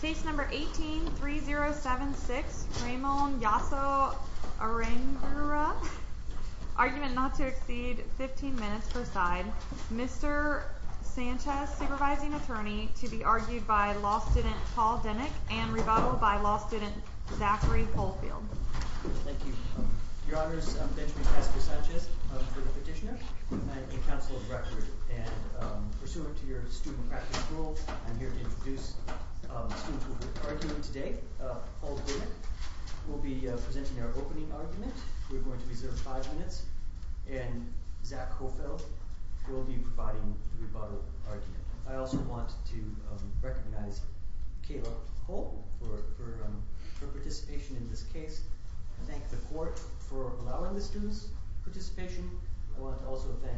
Case number 18-3076, Ramon Jasso Arangure, argument not to exceed 15 minutes per side. Mr. Sanchez, supervising attorney, to be argued by law student Paul Denick and rebuttaled by law student Zachary Fulfield. Thank you. Your honors, I'm Benjamin Casper Sanchez. I'm for the petitioner. I'm a counsel of record. And pursuant to your student practice rules, I'm here to introduce the student argument today. Paul Denick will be presenting our opening argument. We're going to reserve five minutes. And Zach Fulfield will be providing the rebuttal argument. I also want to recognize Kayla Holt for her participation in this case. I thank the court for allowing the student's participation. I want to also thank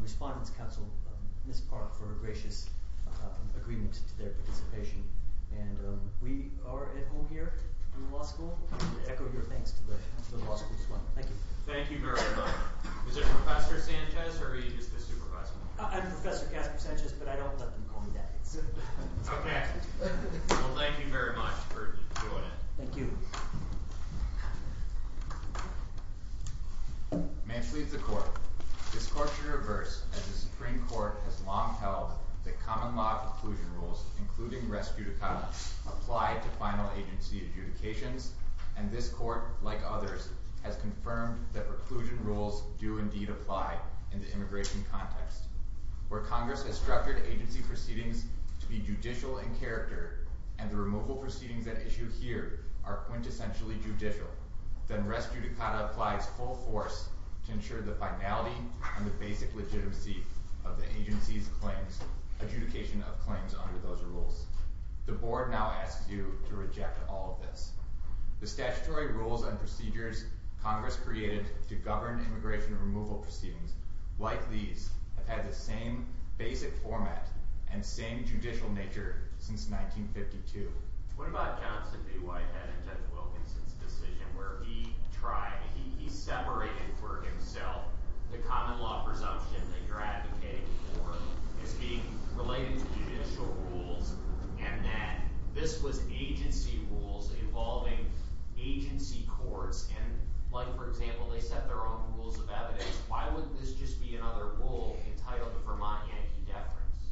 Respondents Council, in this part, for a gracious agreement to their participation. And we are at home here in the law school. I want to echo your thanks to the law school as well. Thank you. Thank you very much. Is there Professor Sanchez, or is this the supervising attorney? I'm Professor Casper Sanchez, but I don't let them call me that. OK. Well, thank you very much for doing it. Thank you. May I please leave the court. This court should reverse, as the Supreme Court has long held, that common law inclusion rules, including res judicata, apply to final agency adjudications. And this court, like others, has confirmed that reclusion rules do indeed apply in the immigration context, where Congress has structured agency proceedings to be judicial in character, and the removal proceedings that issue here are quintessentially judicial. Then res judicata applies full force to ensure the finality and the basic legitimacy of the agency's claims, adjudication of claims under those rules. The board now asks you to reject all of this. The statutory rules and procedures Congress created to govern immigration removal proceedings, like these, have had the same basic format and same judicial nature since 1952. What about Johnson v. Whitehead and Judge Wilkinson's decision, where he tried, he separated for himself the common law presumption that you're advocating for as being related to judicial rules, and that this was agency rules involving agency courts? And like, for example, they set their own rules of evidence. Why would this just be another rule entitled Vermont Yankee deference?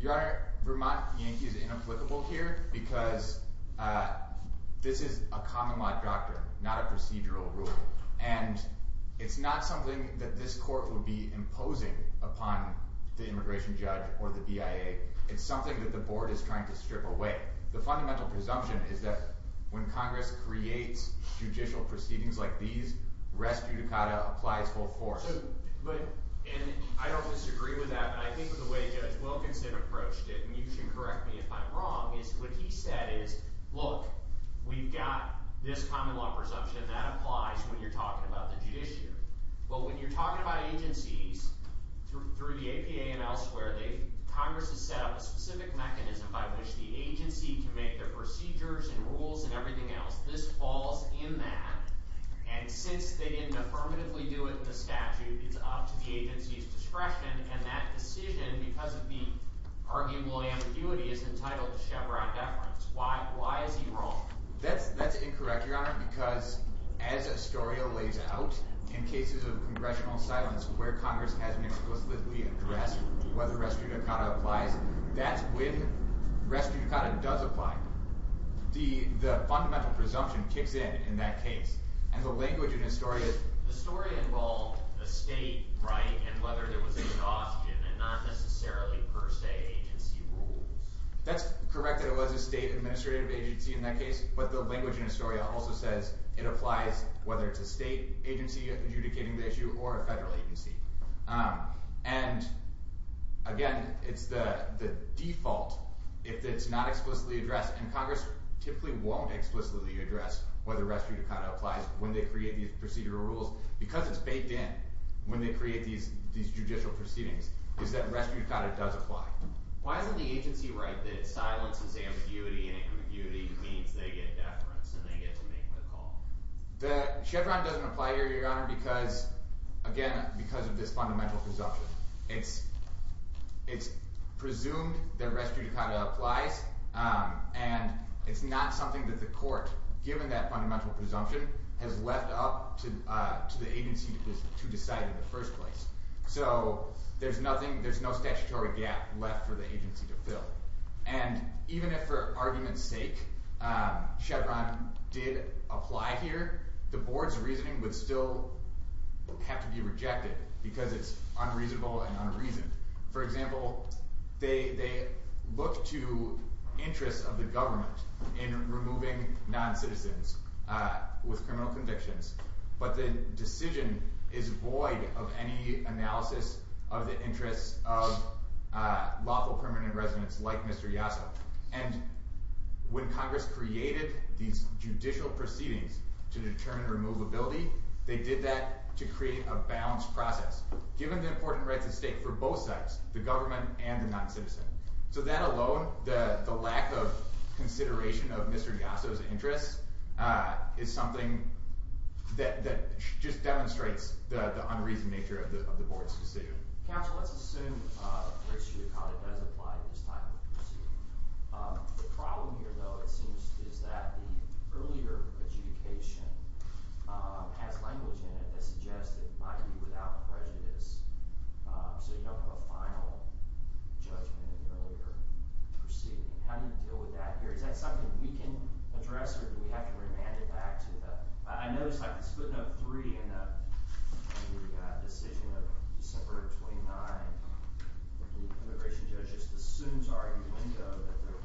Your Honor, Vermont Yankee is inapplicable here, because this is a common law doctrine, not a procedural rule. And it's not something that this court would be imposing upon the immigration judge or the BIA. It's something that the board is trying to strip away. The fundamental presumption is that when Congress creates judicial proceedings like these, res judicata applies full force. And I don't disagree with that, but I think the way Judge Wilkinson approached it, and you can correct me if I'm wrong, is what he said is, look, we've got this common law presumption. That applies when you're talking about the judiciary. But when you're talking about agencies, through the APA and elsewhere, Congress has set up a specific mechanism by which the agency can make their procedures and rules and everything else. This falls in that. And since they didn't affirmatively do it in the statute, it's up to the agency's discretion. And that decision, because of the arguable ambiguity, is entitled to Chevron deference. Why is he wrong? That's incorrect, Your Honor, because as Astoria lays out, in cases of congressional silence where Congress hasn't explicitly addressed whether res judicata applies, that's when res judicata does apply. The fundamental presumption kicks in in that case. And the language in Astoria is, Astoria involved a state right and whether there was a cost in it, not necessarily per se agency rules. That's correct that it was a state administrative agency in that case. But the language in Astoria also says it applies whether it's a state agency adjudicating the issue or a federal agency. And again, it's the default if it's not explicitly addressed. And Congress typically won't explicitly address whether res judicata applies when they create these procedural rules. Because it's baked in when they create these judicial proceedings, is that res judicata does apply. Why isn't the agency right that silence is ambiguity, and ambiguity means they get deference and they get to make the call? The Chevron doesn't apply here, Your Honor, because, again, because of this fundamental presumption. It's presumed that res judicata applies. And it's not something that the court, given that fundamental presumption, has left up to the agency to decide in the first place. So there's nothing, there's no statutory gap left for the agency to fill. And even if for argument's sake, Chevron did apply here, the board's reasoning would still have to be rejected because it's unreasonable and unreasoned. For example, they look to interests of the government in removing non-citizens with criminal convictions, but the decision is void of any analysis of the interests of lawful permanent residents like Mr. Yasso. And when Congress created these judicial proceedings to determine removability, they did that to create a balanced process, given the important rights at stake for both sides, the government and the non-citizen. It's something that just demonstrates the unreasoned nature of the board's decision. Counsel, let's assume res judicata does apply in this type of proceeding. The problem here, though, it seems, is that the earlier adjudication has language in it that suggests it might be without prejudice, so you don't have a final judgment in the earlier proceeding. How do you deal with that here? Is that something we can address, or do we have to remand it back to the... I noticed, like, the split note three in the decision of December 29, that the immigration judge just assumes our window that the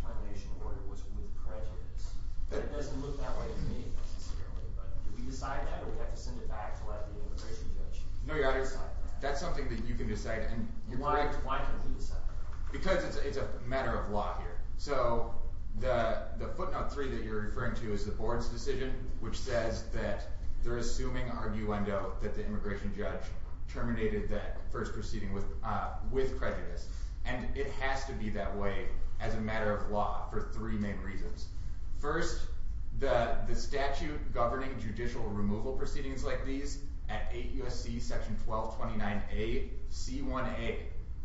termination order was with prejudice. That doesn't look that way to me, necessarily, but do we decide that, or do we have to send it back to let the immigration judge decide that? That's something that you can decide. Why can't he decide? Because it's a matter of law here. So, the footnote three that you're referring to is the board's decision, which says that they're assuming our new window that the immigration judge terminated that first proceeding with prejudice, and it has to be that way as a matter of law for three main reasons. First, the statute governing judicial removal proceedings like these at 8 U.S.C. section 1229A, C1A,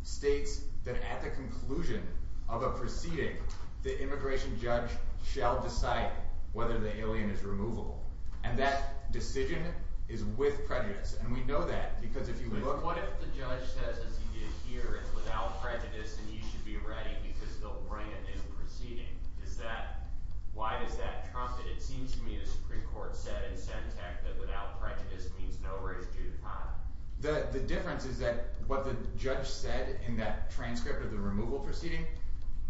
states that at the conclusion of a proceeding, the immigration judge shall decide whether the alien is removable. And that decision is with prejudice, and we know that, because if you look... But what if the judge says, as he did here, it's without prejudice and you should be ready because they'll bring a new proceeding? Is that... Why does that trump it? It seems to me the Supreme Court said in Sentech that without prejudice means no race due to time. The difference is that what the judge said in that transcript of the removal proceeding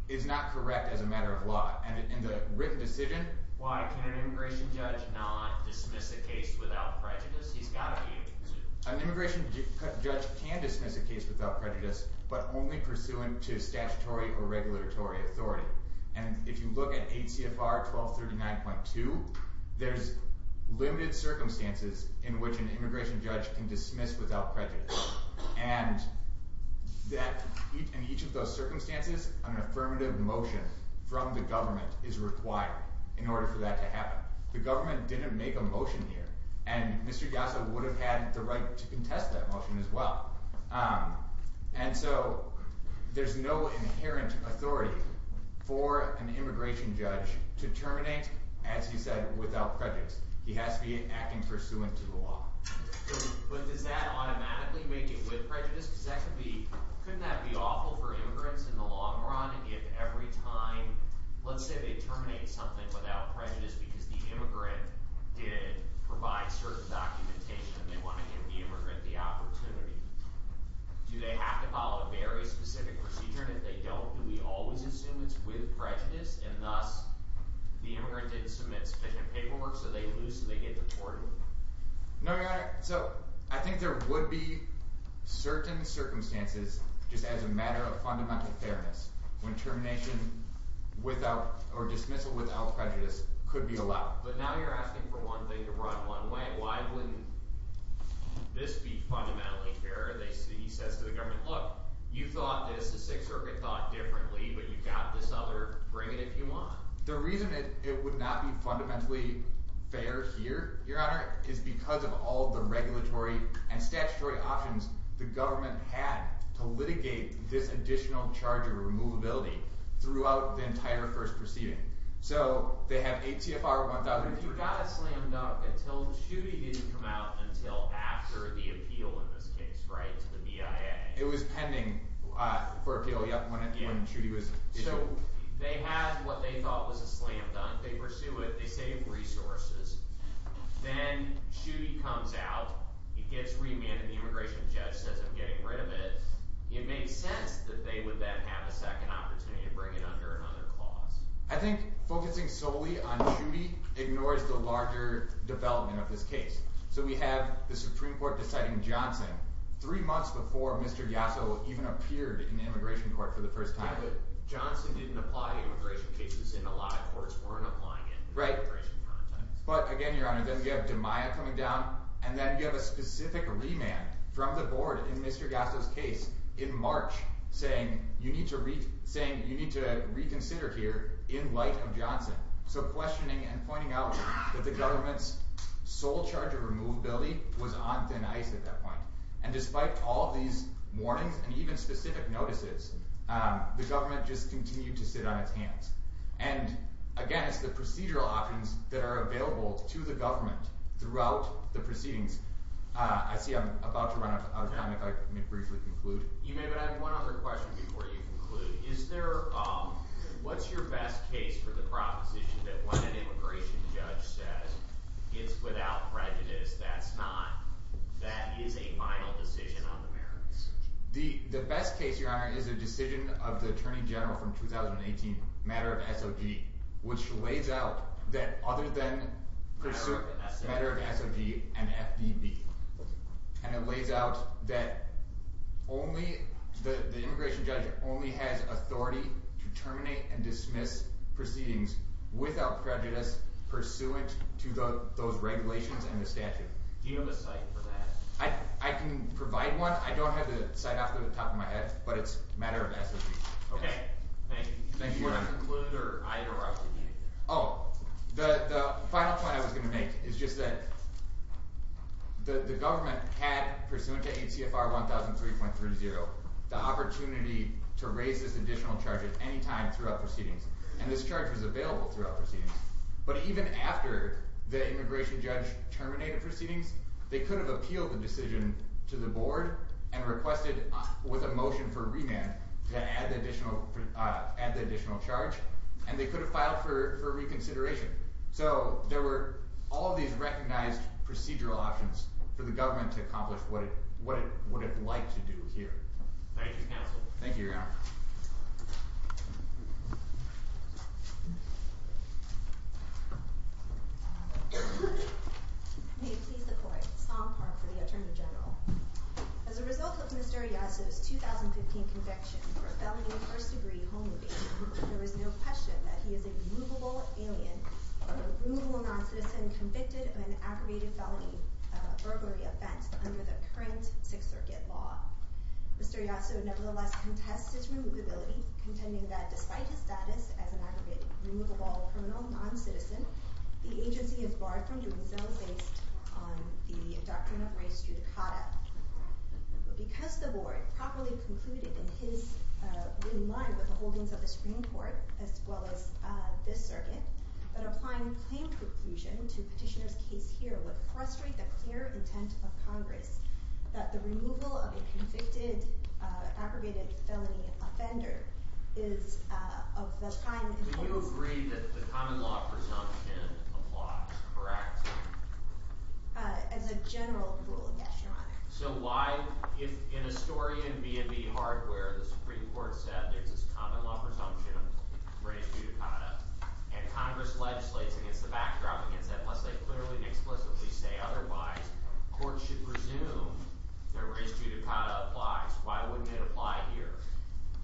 is not correct as a matter of law. And in the written decision... Why can an immigration judge not dismiss a case without prejudice? He's got to be able to. An immigration judge can dismiss a case without prejudice, but only pursuant to statutory or regulatory authority. And if you look at 8 CFR 1239.2, there's limited circumstances in which an immigration judge can dismiss without prejudice. And in each of those circumstances, an affirmative motion from the government is required in order for that to happen. The government didn't make a motion here, and Mr Yassa would have had the right to contest that motion as well. And so there's no inherent authority for an immigration judge to terminate, as he said, without prejudice. He has to be acting pursuant to the law. But does that automatically make it with prejudice? Because that could be... Couldn't that be awful for immigrants in the long run if every time... Let's say they terminate something without prejudice because the immigrant did provide certain documentation and they want to give the immigrant the opportunity. Do they have to follow a very specific procedure? And if they don't, do we always assume it's with prejudice? And thus, the immigrant didn't submit sufficient paperwork so they lose and they get deported? No, Your Honour. So, I think there would be certain circumstances just as a matter of fundamental fairness when termination without or dismissal without prejudice could be allowed. But now you're asking for one thing to run one way. Why wouldn't this be fundamentally fair? He says to the government, look, you thought this, the Sixth Circuit thought differently, but you've got this other, bring it if you want. The reason it would not be fundamentally fair here, Your Honour, is because of all the regulatory and statutory options the government had to litigate this additional charge of removability throughout the entire first proceeding. So, they have ATFR 1003. But you got it slammed up until Chudy didn't come out until after the appeal in this case, right, to the BIA. It was pending for appeal, yeah, when Chudy was issued. So, they have what they thought was a slam dunk. They pursue it. They save resources. Then Chudy comes out. He gets remanded. The immigration judge says, I'm getting rid of it. It makes sense that they would then have a second opportunity to bring it under another clause. I think focusing solely on Chudy ignores the larger development of this case. So, we have the Supreme Court deciding Johnson three months before Mr. Yasso even appeared in the immigration court for the first time. Johnson didn't apply to immigration cases and a lot of courts weren't applying it. Right. But again, Your Honor, then you have DiMaia coming down and then you have a specific remand from the board in Mr. Yasso's case in March saying you need to reconsider here in light of Johnson. So, questioning and pointing out that the government's sole charge of removability was on thin ice at that point. And despite all these warnings and even specific notices, the government just continued to sit on its hands. And again, it's the procedural options that are available to the government throughout the proceedings. I see I'm about to run out of time if I may briefly conclude. You may, but I have one other question before you conclude. What's your best case for the proposition that when an immigration judge says, it's without prejudice, that's not, that is a final decision on the merits? The best case, Your Honor, is a decision of the Attorney General from 2018, matter of SOG, which lays out that other than... Matter of SOG. Matter of SOG and FDB. And it lays out that only, the immigration judge only has authority to terminate and dismiss proceedings without prejudice pursuant to those regulations and the statute. Do you have a site for that? I can provide one. I don't have the site off the top of my head, but it's a matter of SOG. Okay, thank you. Do you want to conclude or I interrupt? Oh, the final point I was going to make is just that the government had, pursuant to ACFR 1003.30, the opportunity to raise this additional charge at any time throughout proceedings. And this charge was available throughout proceedings. But even after the immigration judge terminated proceedings, they could have appealed the decision to the board and requested with a motion for remand to add the additional charge. And they could have filed for reconsideration. So there were all these recognized procedural options for the government to accomplish Thank you, counsel. Thank you, Your Honor. May it please the court. Song Park for the Attorney General. As a result of Mr. Yasu's 2015 conviction for a felony first-degree home evasion, there is no question that he is a removable alien or a removable non-citizen convicted of an aggravated felony burglary offense Mr. Yasu nevertheless contests his remand and pleads guilty to the charge of contending that despite his status as an aggravated, removable, criminal non-citizen, the agency is barred from doing so based on the doctrine of race judicata. Because the board properly concluded in line with the holdings of the Supreme Court as well as this circuit that applying plain preclusion to petitioner's case here would frustrate the clear intent of Congress that the removal of a convicted aggravated felony offender is of the kind Would you agree that the common law presumption applies As a general rule, yes, Your Honor. So why, if in a story in B&B Hardware the Supreme Court said there's this common law presumption of race judicata and Congress legislates against the backdrop against that, plus they clearly and explicitly say otherwise, courts should presume that race judicata applies. Why wouldn't it apply here?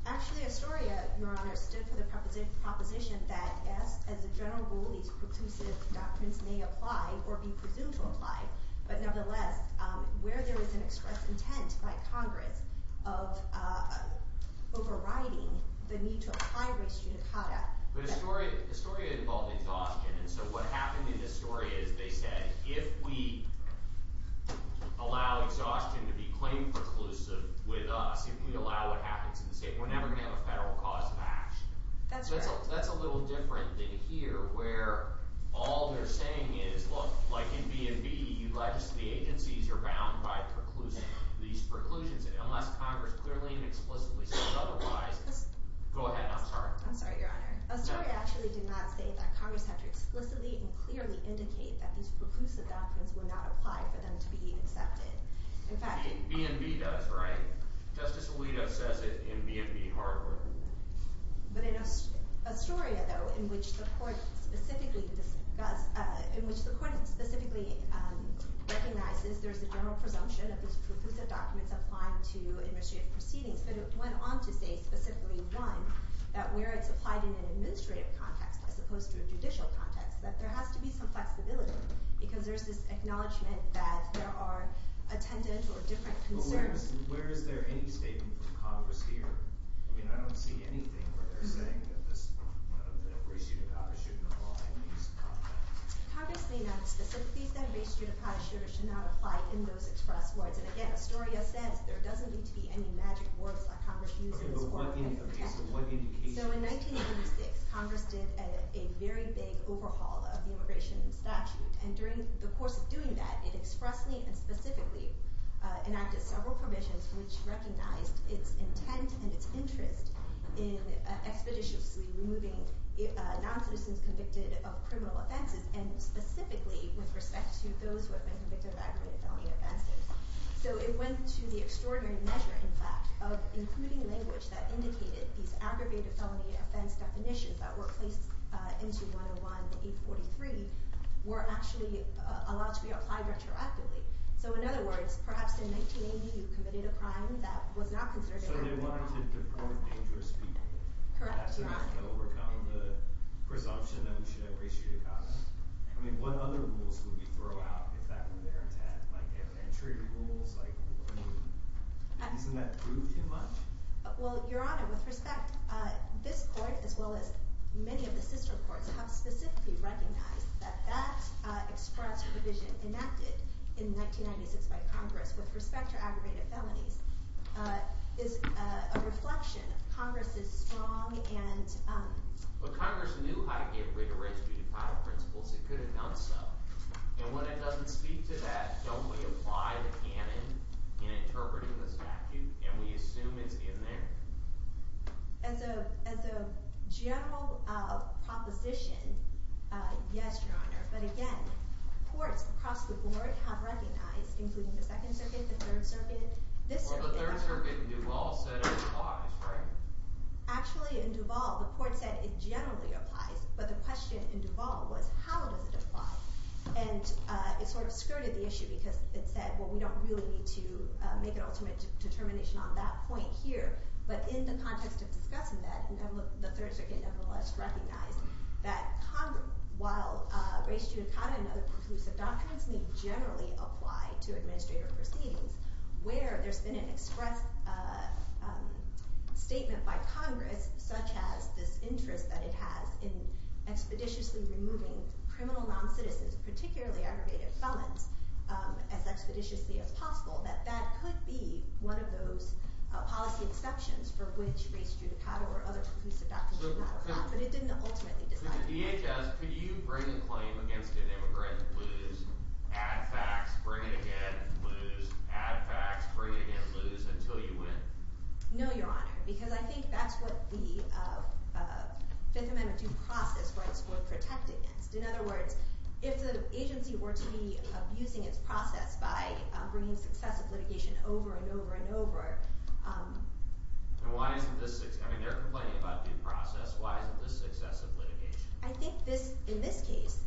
Actually, Astoria, Your Honor, stood for the proposition that, yes, as a general rule these preclusive doctrines may apply or be presumed to apply but nevertheless, where there is an express intent by Congress of overriding the need to apply race judicata Astoria involved exhaustion and so what happened in Astoria is they said, if we allow exhaustion to be claimed preclusive with us if we allow what happens in the state we're never going to have a federal cause of action. That's a little different than here where all they're saying is, look, like in B&B the agencies are bound by these preclusions unless Congress clearly and explicitly says otherwise I'm sorry, Your Honor. Astoria actually did not say that Congress had to explicitly and clearly indicate that these preclusive doctrines would not apply for them to be accepted B&B does, right? Justice Alito says it in B&B Hardware But in Astoria, though in which the court specifically recognizes there's a general presumption of these preclusive documents applying to administrative proceedings but it went on to say specifically, one that where it's applied in an administrative context as opposed to a judicial context that there has to be some flexibility because there's this acknowledgment that there are attendant or different concerns But where is there any statement from Congress here? I mean, I don't see anything where they're saying that race judicata shouldn't apply in these contexts Congress may not explicitly say race judicata should or should not apply in those express words and again, Astoria says there doesn't need to be any magic words that Congress uses So in 1986, Congress did a very big overhaul of the Immigration Statute and during the course of doing that it expressly and specifically enacted several provisions which recognized its intent and its interest in expeditiously removing non-citizens convicted of criminal offenses and specifically with respect to those who have been convicted of aggravated felony offenses So it went to the extraordinary measure, in fact of including language that indicated these aggravated felony offense definitions that were placed into 101-843 were actually allowed to be applied retroactively So in other words, perhaps in 1980 you committed a crime that was not considered So they wanted to deprove dangerous people Correct to overcome the presumption that we should have race judicata I mean, what other rules would we throw out if that were their intent? Like entry rules? Isn't that proof too much? Well, your honor, with respect this court as well as many of the sister courts have specifically recognized that that express provision enacted in 1996 by Congress with respect to aggravated felonies is a reflection of Congress's strong and But Congress knew how to give rigorous judicata principles, it could have done so. And when it doesn't speak to that, don't we apply the canon in interpreting the As a general proposition yes, your honor, but again courts across the board have recognized including the second circuit, the third circuit Or the third circuit Duval said it applies, right? Actually in Duval, the court said it generally applies, but the question in Duval was, how does it apply? And it sort of skirted the issue because it said, well we don't really need to make an ultimate determination on that point here but in the context of discussing that the third circuit nevertheless recognized that while race judicata and other conclusive doctrines may generally apply to administrative proceedings where there's been an express statement by Congress such as this interest that it has in expeditiously removing criminal non-citizens particularly aggravated felons as expeditiously as possible that that could be one of those policy exceptions for which race judicata or other conclusive doctrines matter, but it didn't ultimately decide that. So the DHS, could you bring a claim against an immigrant, lose add facts, bring it again lose, add facts, bring it again lose until you win? No, your honor, because I think that's what the Fifth Amendment due process rights were protected against. In other words, if the agency were to be abusing its process by bringing successive litigation over and over and over And why isn't this, I mean they're complaining about due process, why isn't this successive litigation? I think this, in this case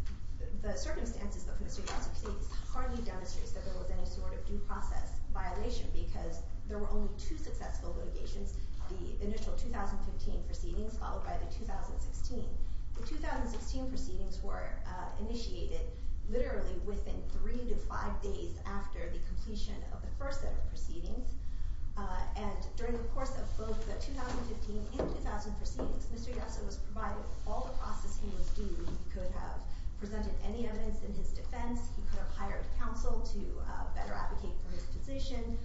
the circumstances of the state of Massachusetts hardly demonstrates that there was any sort of due process violation because there were only two successful litigations, the initial 2015 proceedings followed by the 2016 The 2016 proceedings were initiated literally within three to five days after the completion of the first set of proceedings and during the course of both the 2015 and the 2000 proceedings Mr. Yasser was provided all the process he was due, he could have presented any evidence in his defense he could have hired counsel to better advocate for his position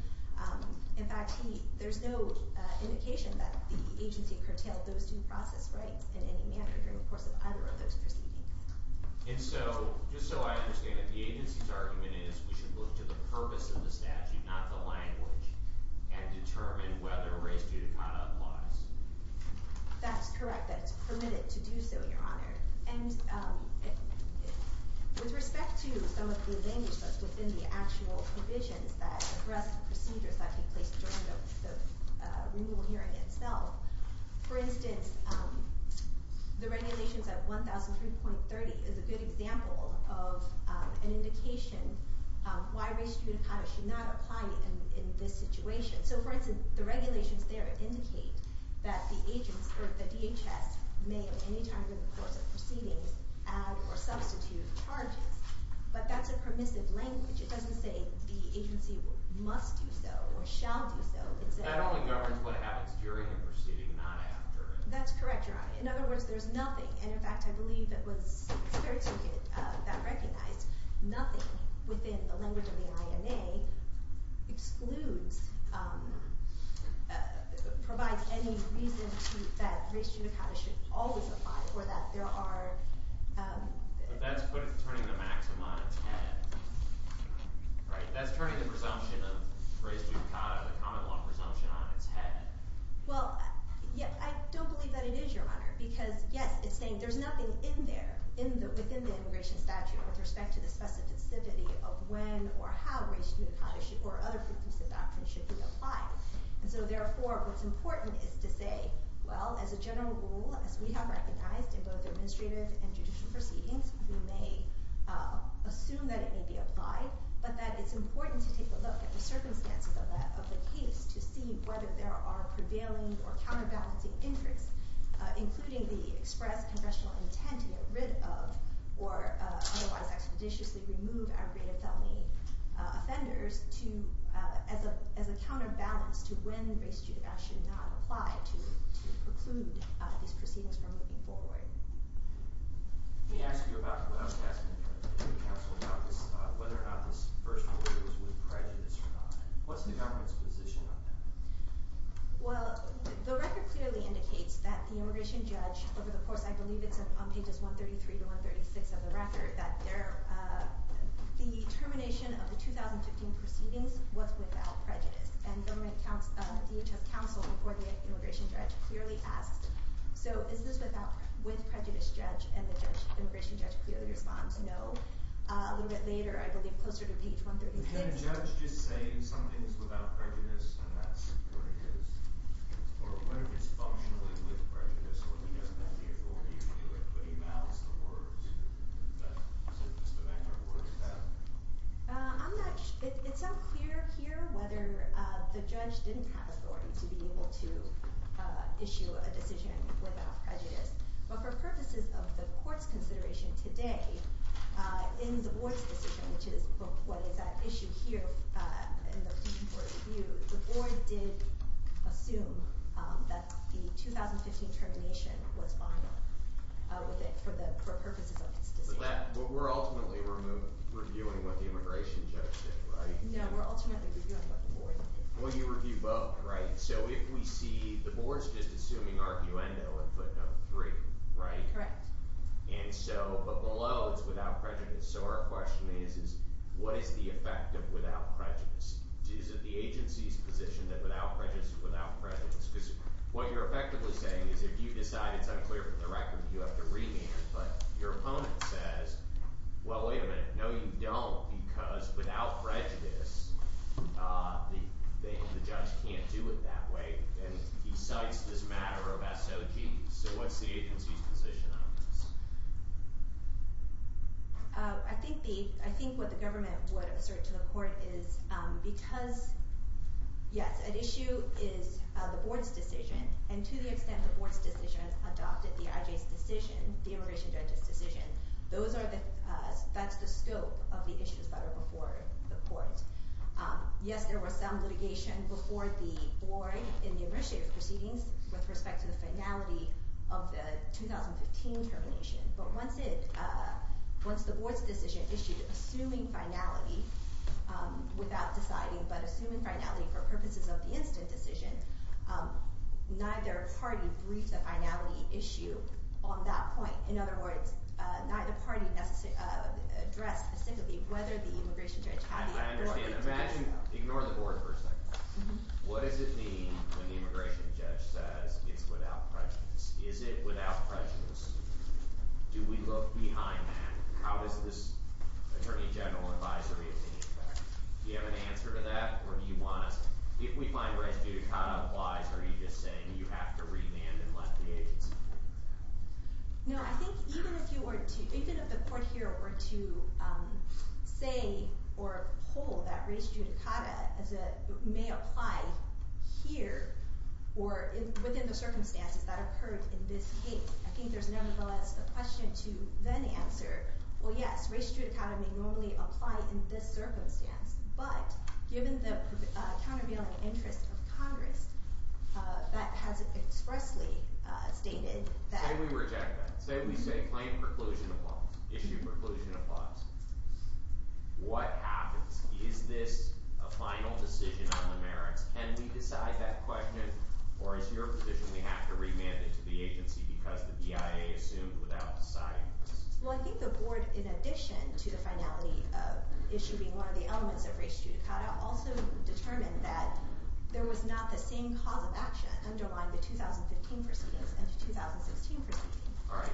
in fact he, there's no indication that the agency curtailed those due process rights in any manner during the course of either of those proceedings And so, just so I understand it, the agency's argument is we should look to the purpose of the statute not the language, and determine whether race due to conduct applies. That's correct, that it's permitted to do so, Your Honor and with respect to some of the language that's within the actual provisions that address the procedures that take place during the renewal hearing itself for instance the regulations at 1003.30 is a good example of an indication of why race due to conduct should not apply in this situation. So for instance, the regulations there indicate that the agents, or the DHS may at any time in the course of proceedings add or substitute charges but that's a permissive language it doesn't say the agency must do so or shall do so That only governs what happens during the proceeding, not after it. That's correct, Your Honor. In other words, there's nothing and in fact, I believe it was Fair Ticket that recognized nothing within the language of the INA excludes provides any reason that race due to conduct should always apply or that there are But that's turning the maxim on its head Right? That's turning the presumption of race due to conduct, the common law turning the presumption on its head Well, I don't believe that it is Your Honor, because yes, it's saying there's nothing in there, within the immigration statute with respect to the specificity of when or how race due to conduct or other preclusive actions should be applied So therefore, what's important is to say well, as a general rule, as we have recognized in both administrative and judicial proceedings, we may assume that it may be applied but that it's important to take a look at the circumstances of the case to see whether there are prevailing or counterbalancing interests including the express congressional intent to get rid of or otherwise expeditiously remove aggravated felony offenders as a counterbalance to when race due to conduct should not apply to preclude these proceedings from moving forward Let me ask you about whether or not this first order was with prejudice or not. What's the government's position on that? Well, the record clearly indicates that the immigration judge, over the course, I believe it's on pages 133 to 136 of the record, that the termination of the 2015 proceedings was without prejudice and the DHS counsel before the immigration judge clearly asked, so is this with prejudice, judge, and the judge the immigration judge clearly responds, no a little bit later, I believe, closer to page 133. Can a judge just say something's without prejudice and that's what it is? Or what if it's functionally with prejudice or he doesn't have the authority to do it but he mouths the words that Mr. Vanderport said? I'm not sure it's unclear here whether the judge didn't have authority to be able to issue a decision without prejudice but for purposes of the court's in the board's decision, which is what is at issue here in the petition for review, the board did assume that the 2015 termination was final for purposes of its decision. But we're ultimately reviewing what the immigration judge did, right? No, we're ultimately reviewing what the board did. Well, you review both, right? So if we see the board's just assuming arguendo and put number three, right? Correct. And so, but below it's without prejudice. So our question is what is the effect of without prejudice? Is it the agency's position that without prejudice is without prejudice? Because what you're effectively saying is if you decide it's unclear from the record you have to remand, but your opponent says, well wait a minute, no you don't because without prejudice the judge can't do it that way and he cites this matter of SOG. So what's the agency's position on this? I think the, I think what the government would assert to the court is because yes, an issue is the board's decision and to the extent the board's decision adopted the IJ's decision, the immigration judge's decision, those are the, that's the scope of the issues that are before the court. Yes there was some litigation before the board in the initiative proceedings with respect to the finality of the 2015 termination but once it, once the board's decision issued, assuming finality, without deciding, but assuming finality for purposes of the instant decision, neither party briefed the finality issue on that point. In other words, neither party addressed had the authority to do so. I understand, imagine, ignore the board for a second. What does it mean when the immigration judge says it's without prejudice? Is it without prejudice? Do we look behind that? How does this attorney general advisory affect? Do you have an answer to that or do you want us, if we find race judicata applies, are you just saying you have to remand and let the agency do it? No, I think even if you were to, even if the court here were to say or hold that race judicata may apply here or within the circumstances that occurred in this case, I think there's nevertheless a question to then answer, well yes, race judicata may normally apply in this circumstance, but given the countervailing interest of Congress, that has expressly stated that... Say we reject that. Say we say claim preclusion applies. Issue preclusion applies. What happens? Is this a final decision on the merits? Can we decide that question or is your position we have to remand it to the agency because the BIA assumed without deciding? Well, I think the board, in addition to the finality of issuing one of the elements of race judicata also determined that there was not the same cause of action underlying the 2015 proceedings and the 2016 proceedings. Alright,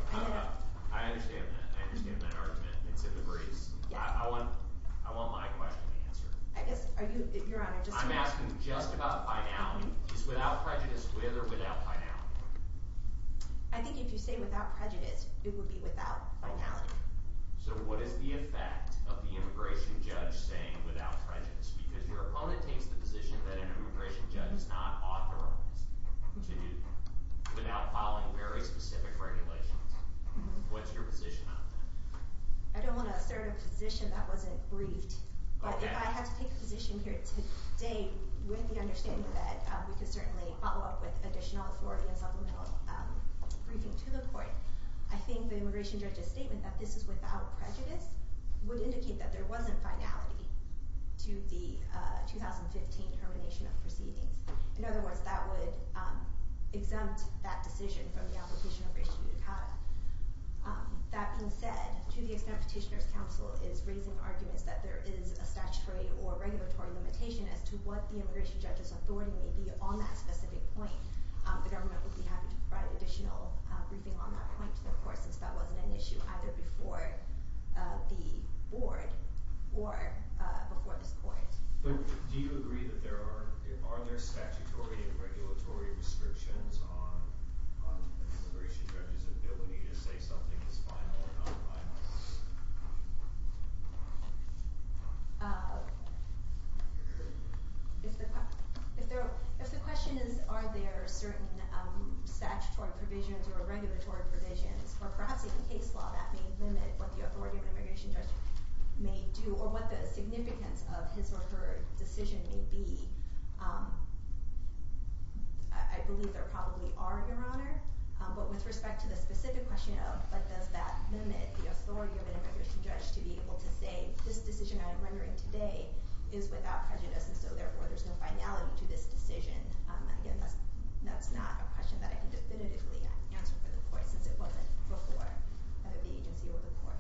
I understand that. I understand that argument. It's in the briefs. I want my question answered. I'm asking just about finality. Is without prejudice with or without finality? I think if you say without prejudice, it would be without finality. So what is the effect of the immigration judge saying without prejudice? Because your opponent takes the position that an immigration judge is not authorized to do without following very specific regulations. What's your position on that? I don't want to assert a position that wasn't briefed, but if I had to take a position here today with the understanding that we could certainly follow up with additional authority and supplemental briefing to the court, I think the immigration judge's statement that this is without prejudice would indicate that there wasn't finality to the 2015 termination of proceedings. In other words, that would exempt that decision from the application of race judicata. That being said, to the extent Petitioner's Council is raising arguments that there is a statutory or regulatory limitation as to what the immigration judge's authority may be on that specific point, the government would be happy to provide additional briefing on that point to the court since that wasn't an issue either before the board or before this court. Do you agree that there are statutory and regulatory restrictions on immigration judge's ability to say something is final or not final? If the question is are there certain statutory provisions or regulatory provisions, or perhaps in case law that may limit what the authority of an immigration judge may do or what the significance of his or her decision may be, I believe there probably are, Your Honor. But with respect to the specific question of does that limit the authority of an immigration judge to be able to say this decision I am rendering today is without prejudice and so therefore there's no finality to this decision, that's not a question that I can definitively answer for the court since it wasn't before either the agency or the court.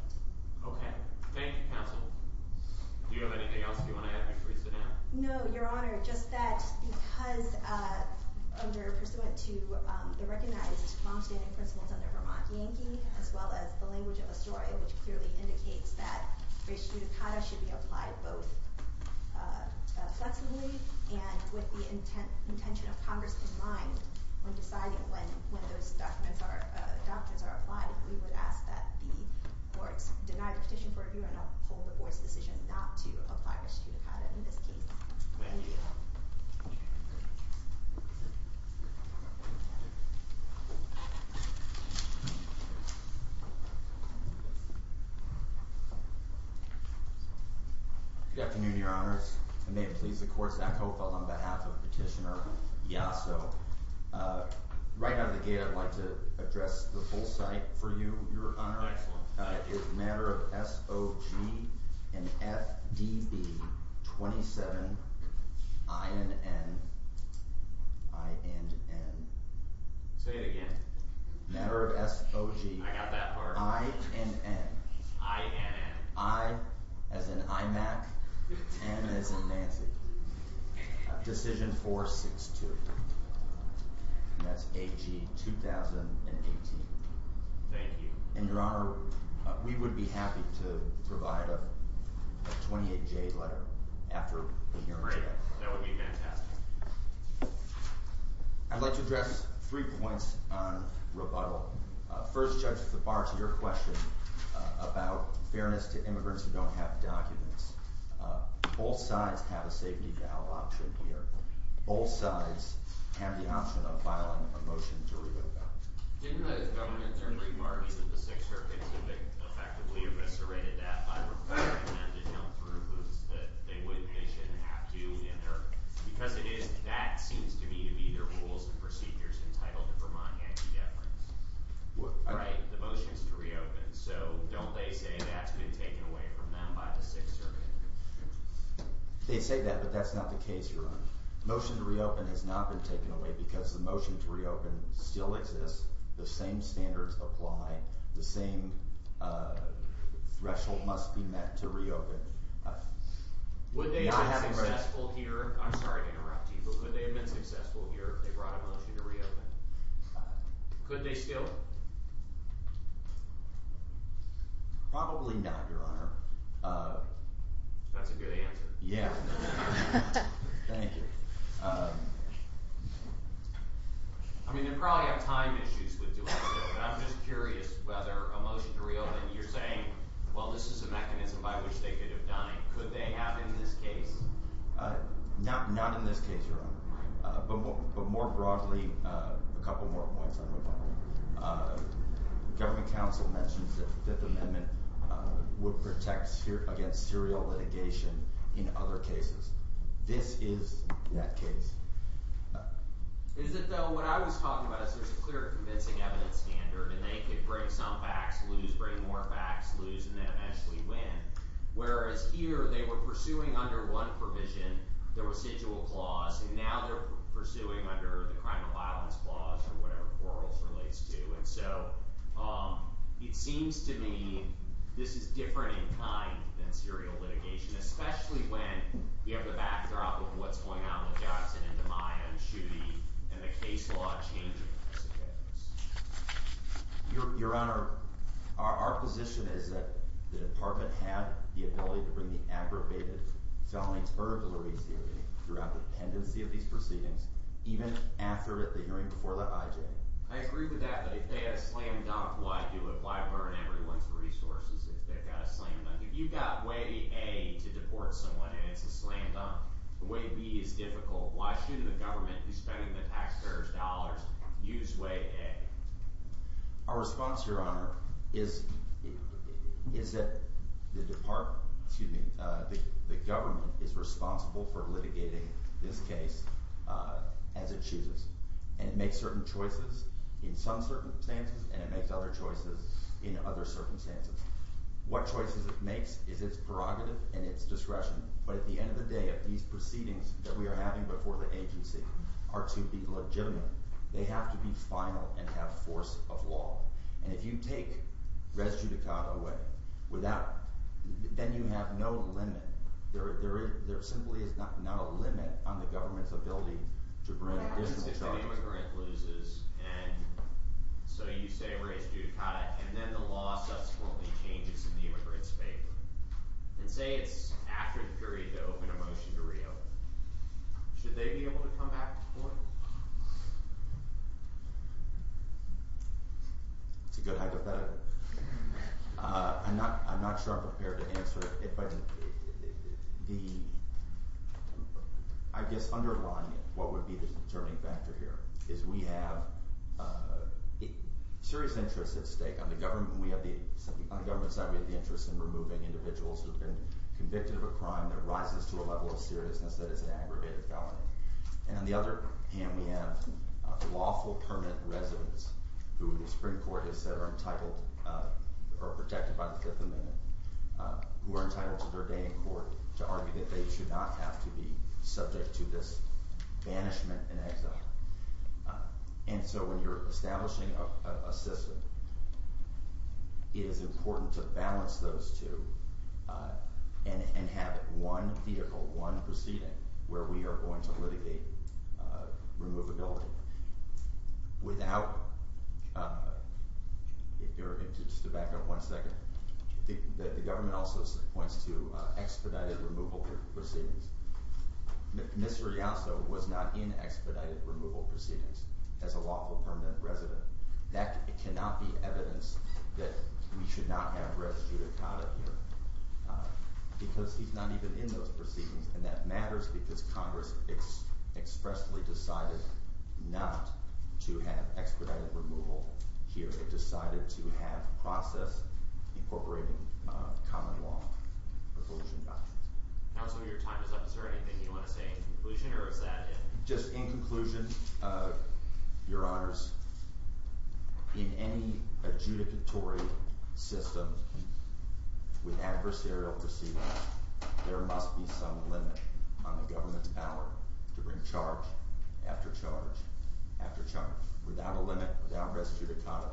Thank you, Counsel. Do you have anything else you want to add before you sit down? No, Your Honor. Just that because under, pursuant to the recognized long-standing principles under Vermont Yankee as well as the language of Astoria which clearly indicates that res judicata should be applied both flexibly and with the intention of Congress in mind when deciding when those doctrines are applied we would ask that the courts deny the petition for review and uphold the board's decision not to apply res judicata in this case. Thank you. Good afternoon, Your Honors. I may please the Court's echo on behalf of Petitioner Yasso. Right out of the gate I'd like to address the full site for you, Your Honor. It's a matter of SOG and FDB 27 INN INN Say it again. Matter of SOG INN INN I as in IMAC N as in Nancy Decision 462 That's AG 2018 Thank you. And, Your Honor, we would be happy to submit a 28-J letter after hearing today. Great. That would be fantastic. I'd like to address three points on rebuttal. First, Judge, to the bar to your question about fairness to immigrants who don't have documents. Both sides have a safety valve option here. Both sides have the option of filing a motion to revoke that. Didn't the Governor internally argue that the Sixth Circuit effectively eviscerated that by requiring them to come through because they shouldn't have to because it is that seems to me to be their rules and procedures entitled to Vermont anti-deference. The motion is to reopen, so don't they say that's been taken away from them by the Sixth Circuit? They say that, but that's not the case, Your Honor. The motion to reopen has not been taken away because the motion to reopen still exists. The same standards apply. The same threshold must be met to reopen. Would they have been successful here? I'm sorry to interrupt you, but could they have been successful here if they brought a motion to reopen? Could they still? Probably not, Your Honor. That's a good answer. Thank you. I mean, they probably have time issues with doing this, but I'm just curious whether a motion to reopen you're saying, well, this is a mechanism by which they could have died. Could they have in this case? Not in this case, Your Honor. But more broadly, a couple more points on Revolta. Government Council mentioned that the Fifth Amendment would protect against serial litigation in other cases. This is that case. Is it, though? What I was talking about is there's a clear convincing evidence standard, and they could bring some facts, lose, bring more facts, lose, and then eventually win. Whereas here, they were pursuing under one provision, the residual clause, and now they're pursuing under the crime of violence clause or whatever quarrels relates to. It seems to me this is different in kind than serial litigation, especially when you have the backdrop of what's going on with Johnson and DiMaio and Schuette and the case law changing as it goes. Your Honor, our position is that the Department had the ability to bring the aggravated felonies burglary theory throughout the pendency of these proceedings, even after the hearing before the IJ. I agree with that, but if they had a slam dunk, why do it? Why burn everyone's resources if they've got a slam dunk? If you've got way A to deport someone and it's a slam dunk, way B is difficult. Why should the government, who's spending the taxpayer's dollars, use way A? Our response, Your Honor, is that the Department, excuse me, the government is responsible for litigating this case as it chooses, and it makes certain choices in some circumstances, and it makes other choices in other circumstances. What choices it makes is to have the discretion, but at the end of the day, if these proceedings that we are having before the agency are to be legitimate, they have to be final and have force of law, and if you take res judicata away without, then you have no limit. There simply is not a limit on the government's ability to bring additional charges. If the immigrant loses, and so you say res judicata, and then the law subsequently changes in the immigrant's favor, and say it's after the period to open a motion to reopen, should they be able to come back to court? That's a good hypothetical. I'm not sure I'm prepared to answer it, but the it, what would be the determining factor here is we have serious interests at stake on the government side, we have the interest in removing individuals who have been convicted of a crime that rises to a level of seriousness that is an aggravated felony, and on the other hand we have lawful permanent residents who the Supreme Court has said are entitled or protected by the Fifth Amendment who are entitled to their day in court to argue that they should not have to be subject to this banishment and exile, and so when you're establishing a system, it is important to balance those two and have one vehicle, one proceeding where we are going to litigate removability. Without if you're, just to back up one second, the government also points to expedited removal proceedings. Ms. Rialso was not in expedited removal proceedings as a lawful permanent resident. That cannot be evidence that we should not have res judicata here because he's not even in those proceedings, and that matters because Congress expressly decided not to have expedited removal here. It decided to have process incorporating common law. Now that some of your time is up, is there anything you want to say in conclusion or is that Just in conclusion, your honors, in any adjudicatory system with adversarial proceedings, there must be some limit on the government's power to bring charge after charge after charge. Without a limit, without res judicata,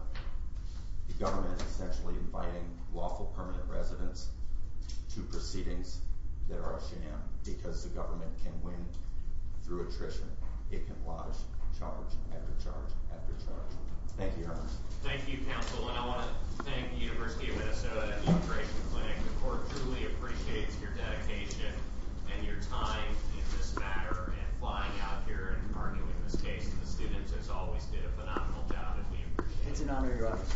the government is essentially inviting lawful permanent residents to proceedings that are a sham because the restriction, it can wash charge after charge after charge. Thank you, your honors. Thank you, counsel, and I want to thank the University of Minnesota Immigration Clinic. The court truly appreciates your dedication and your time in this matter and flying out here and arguing this case. The students, as always, did a phenomenal job and we appreciate it. It's an honor, your honors. Thank you.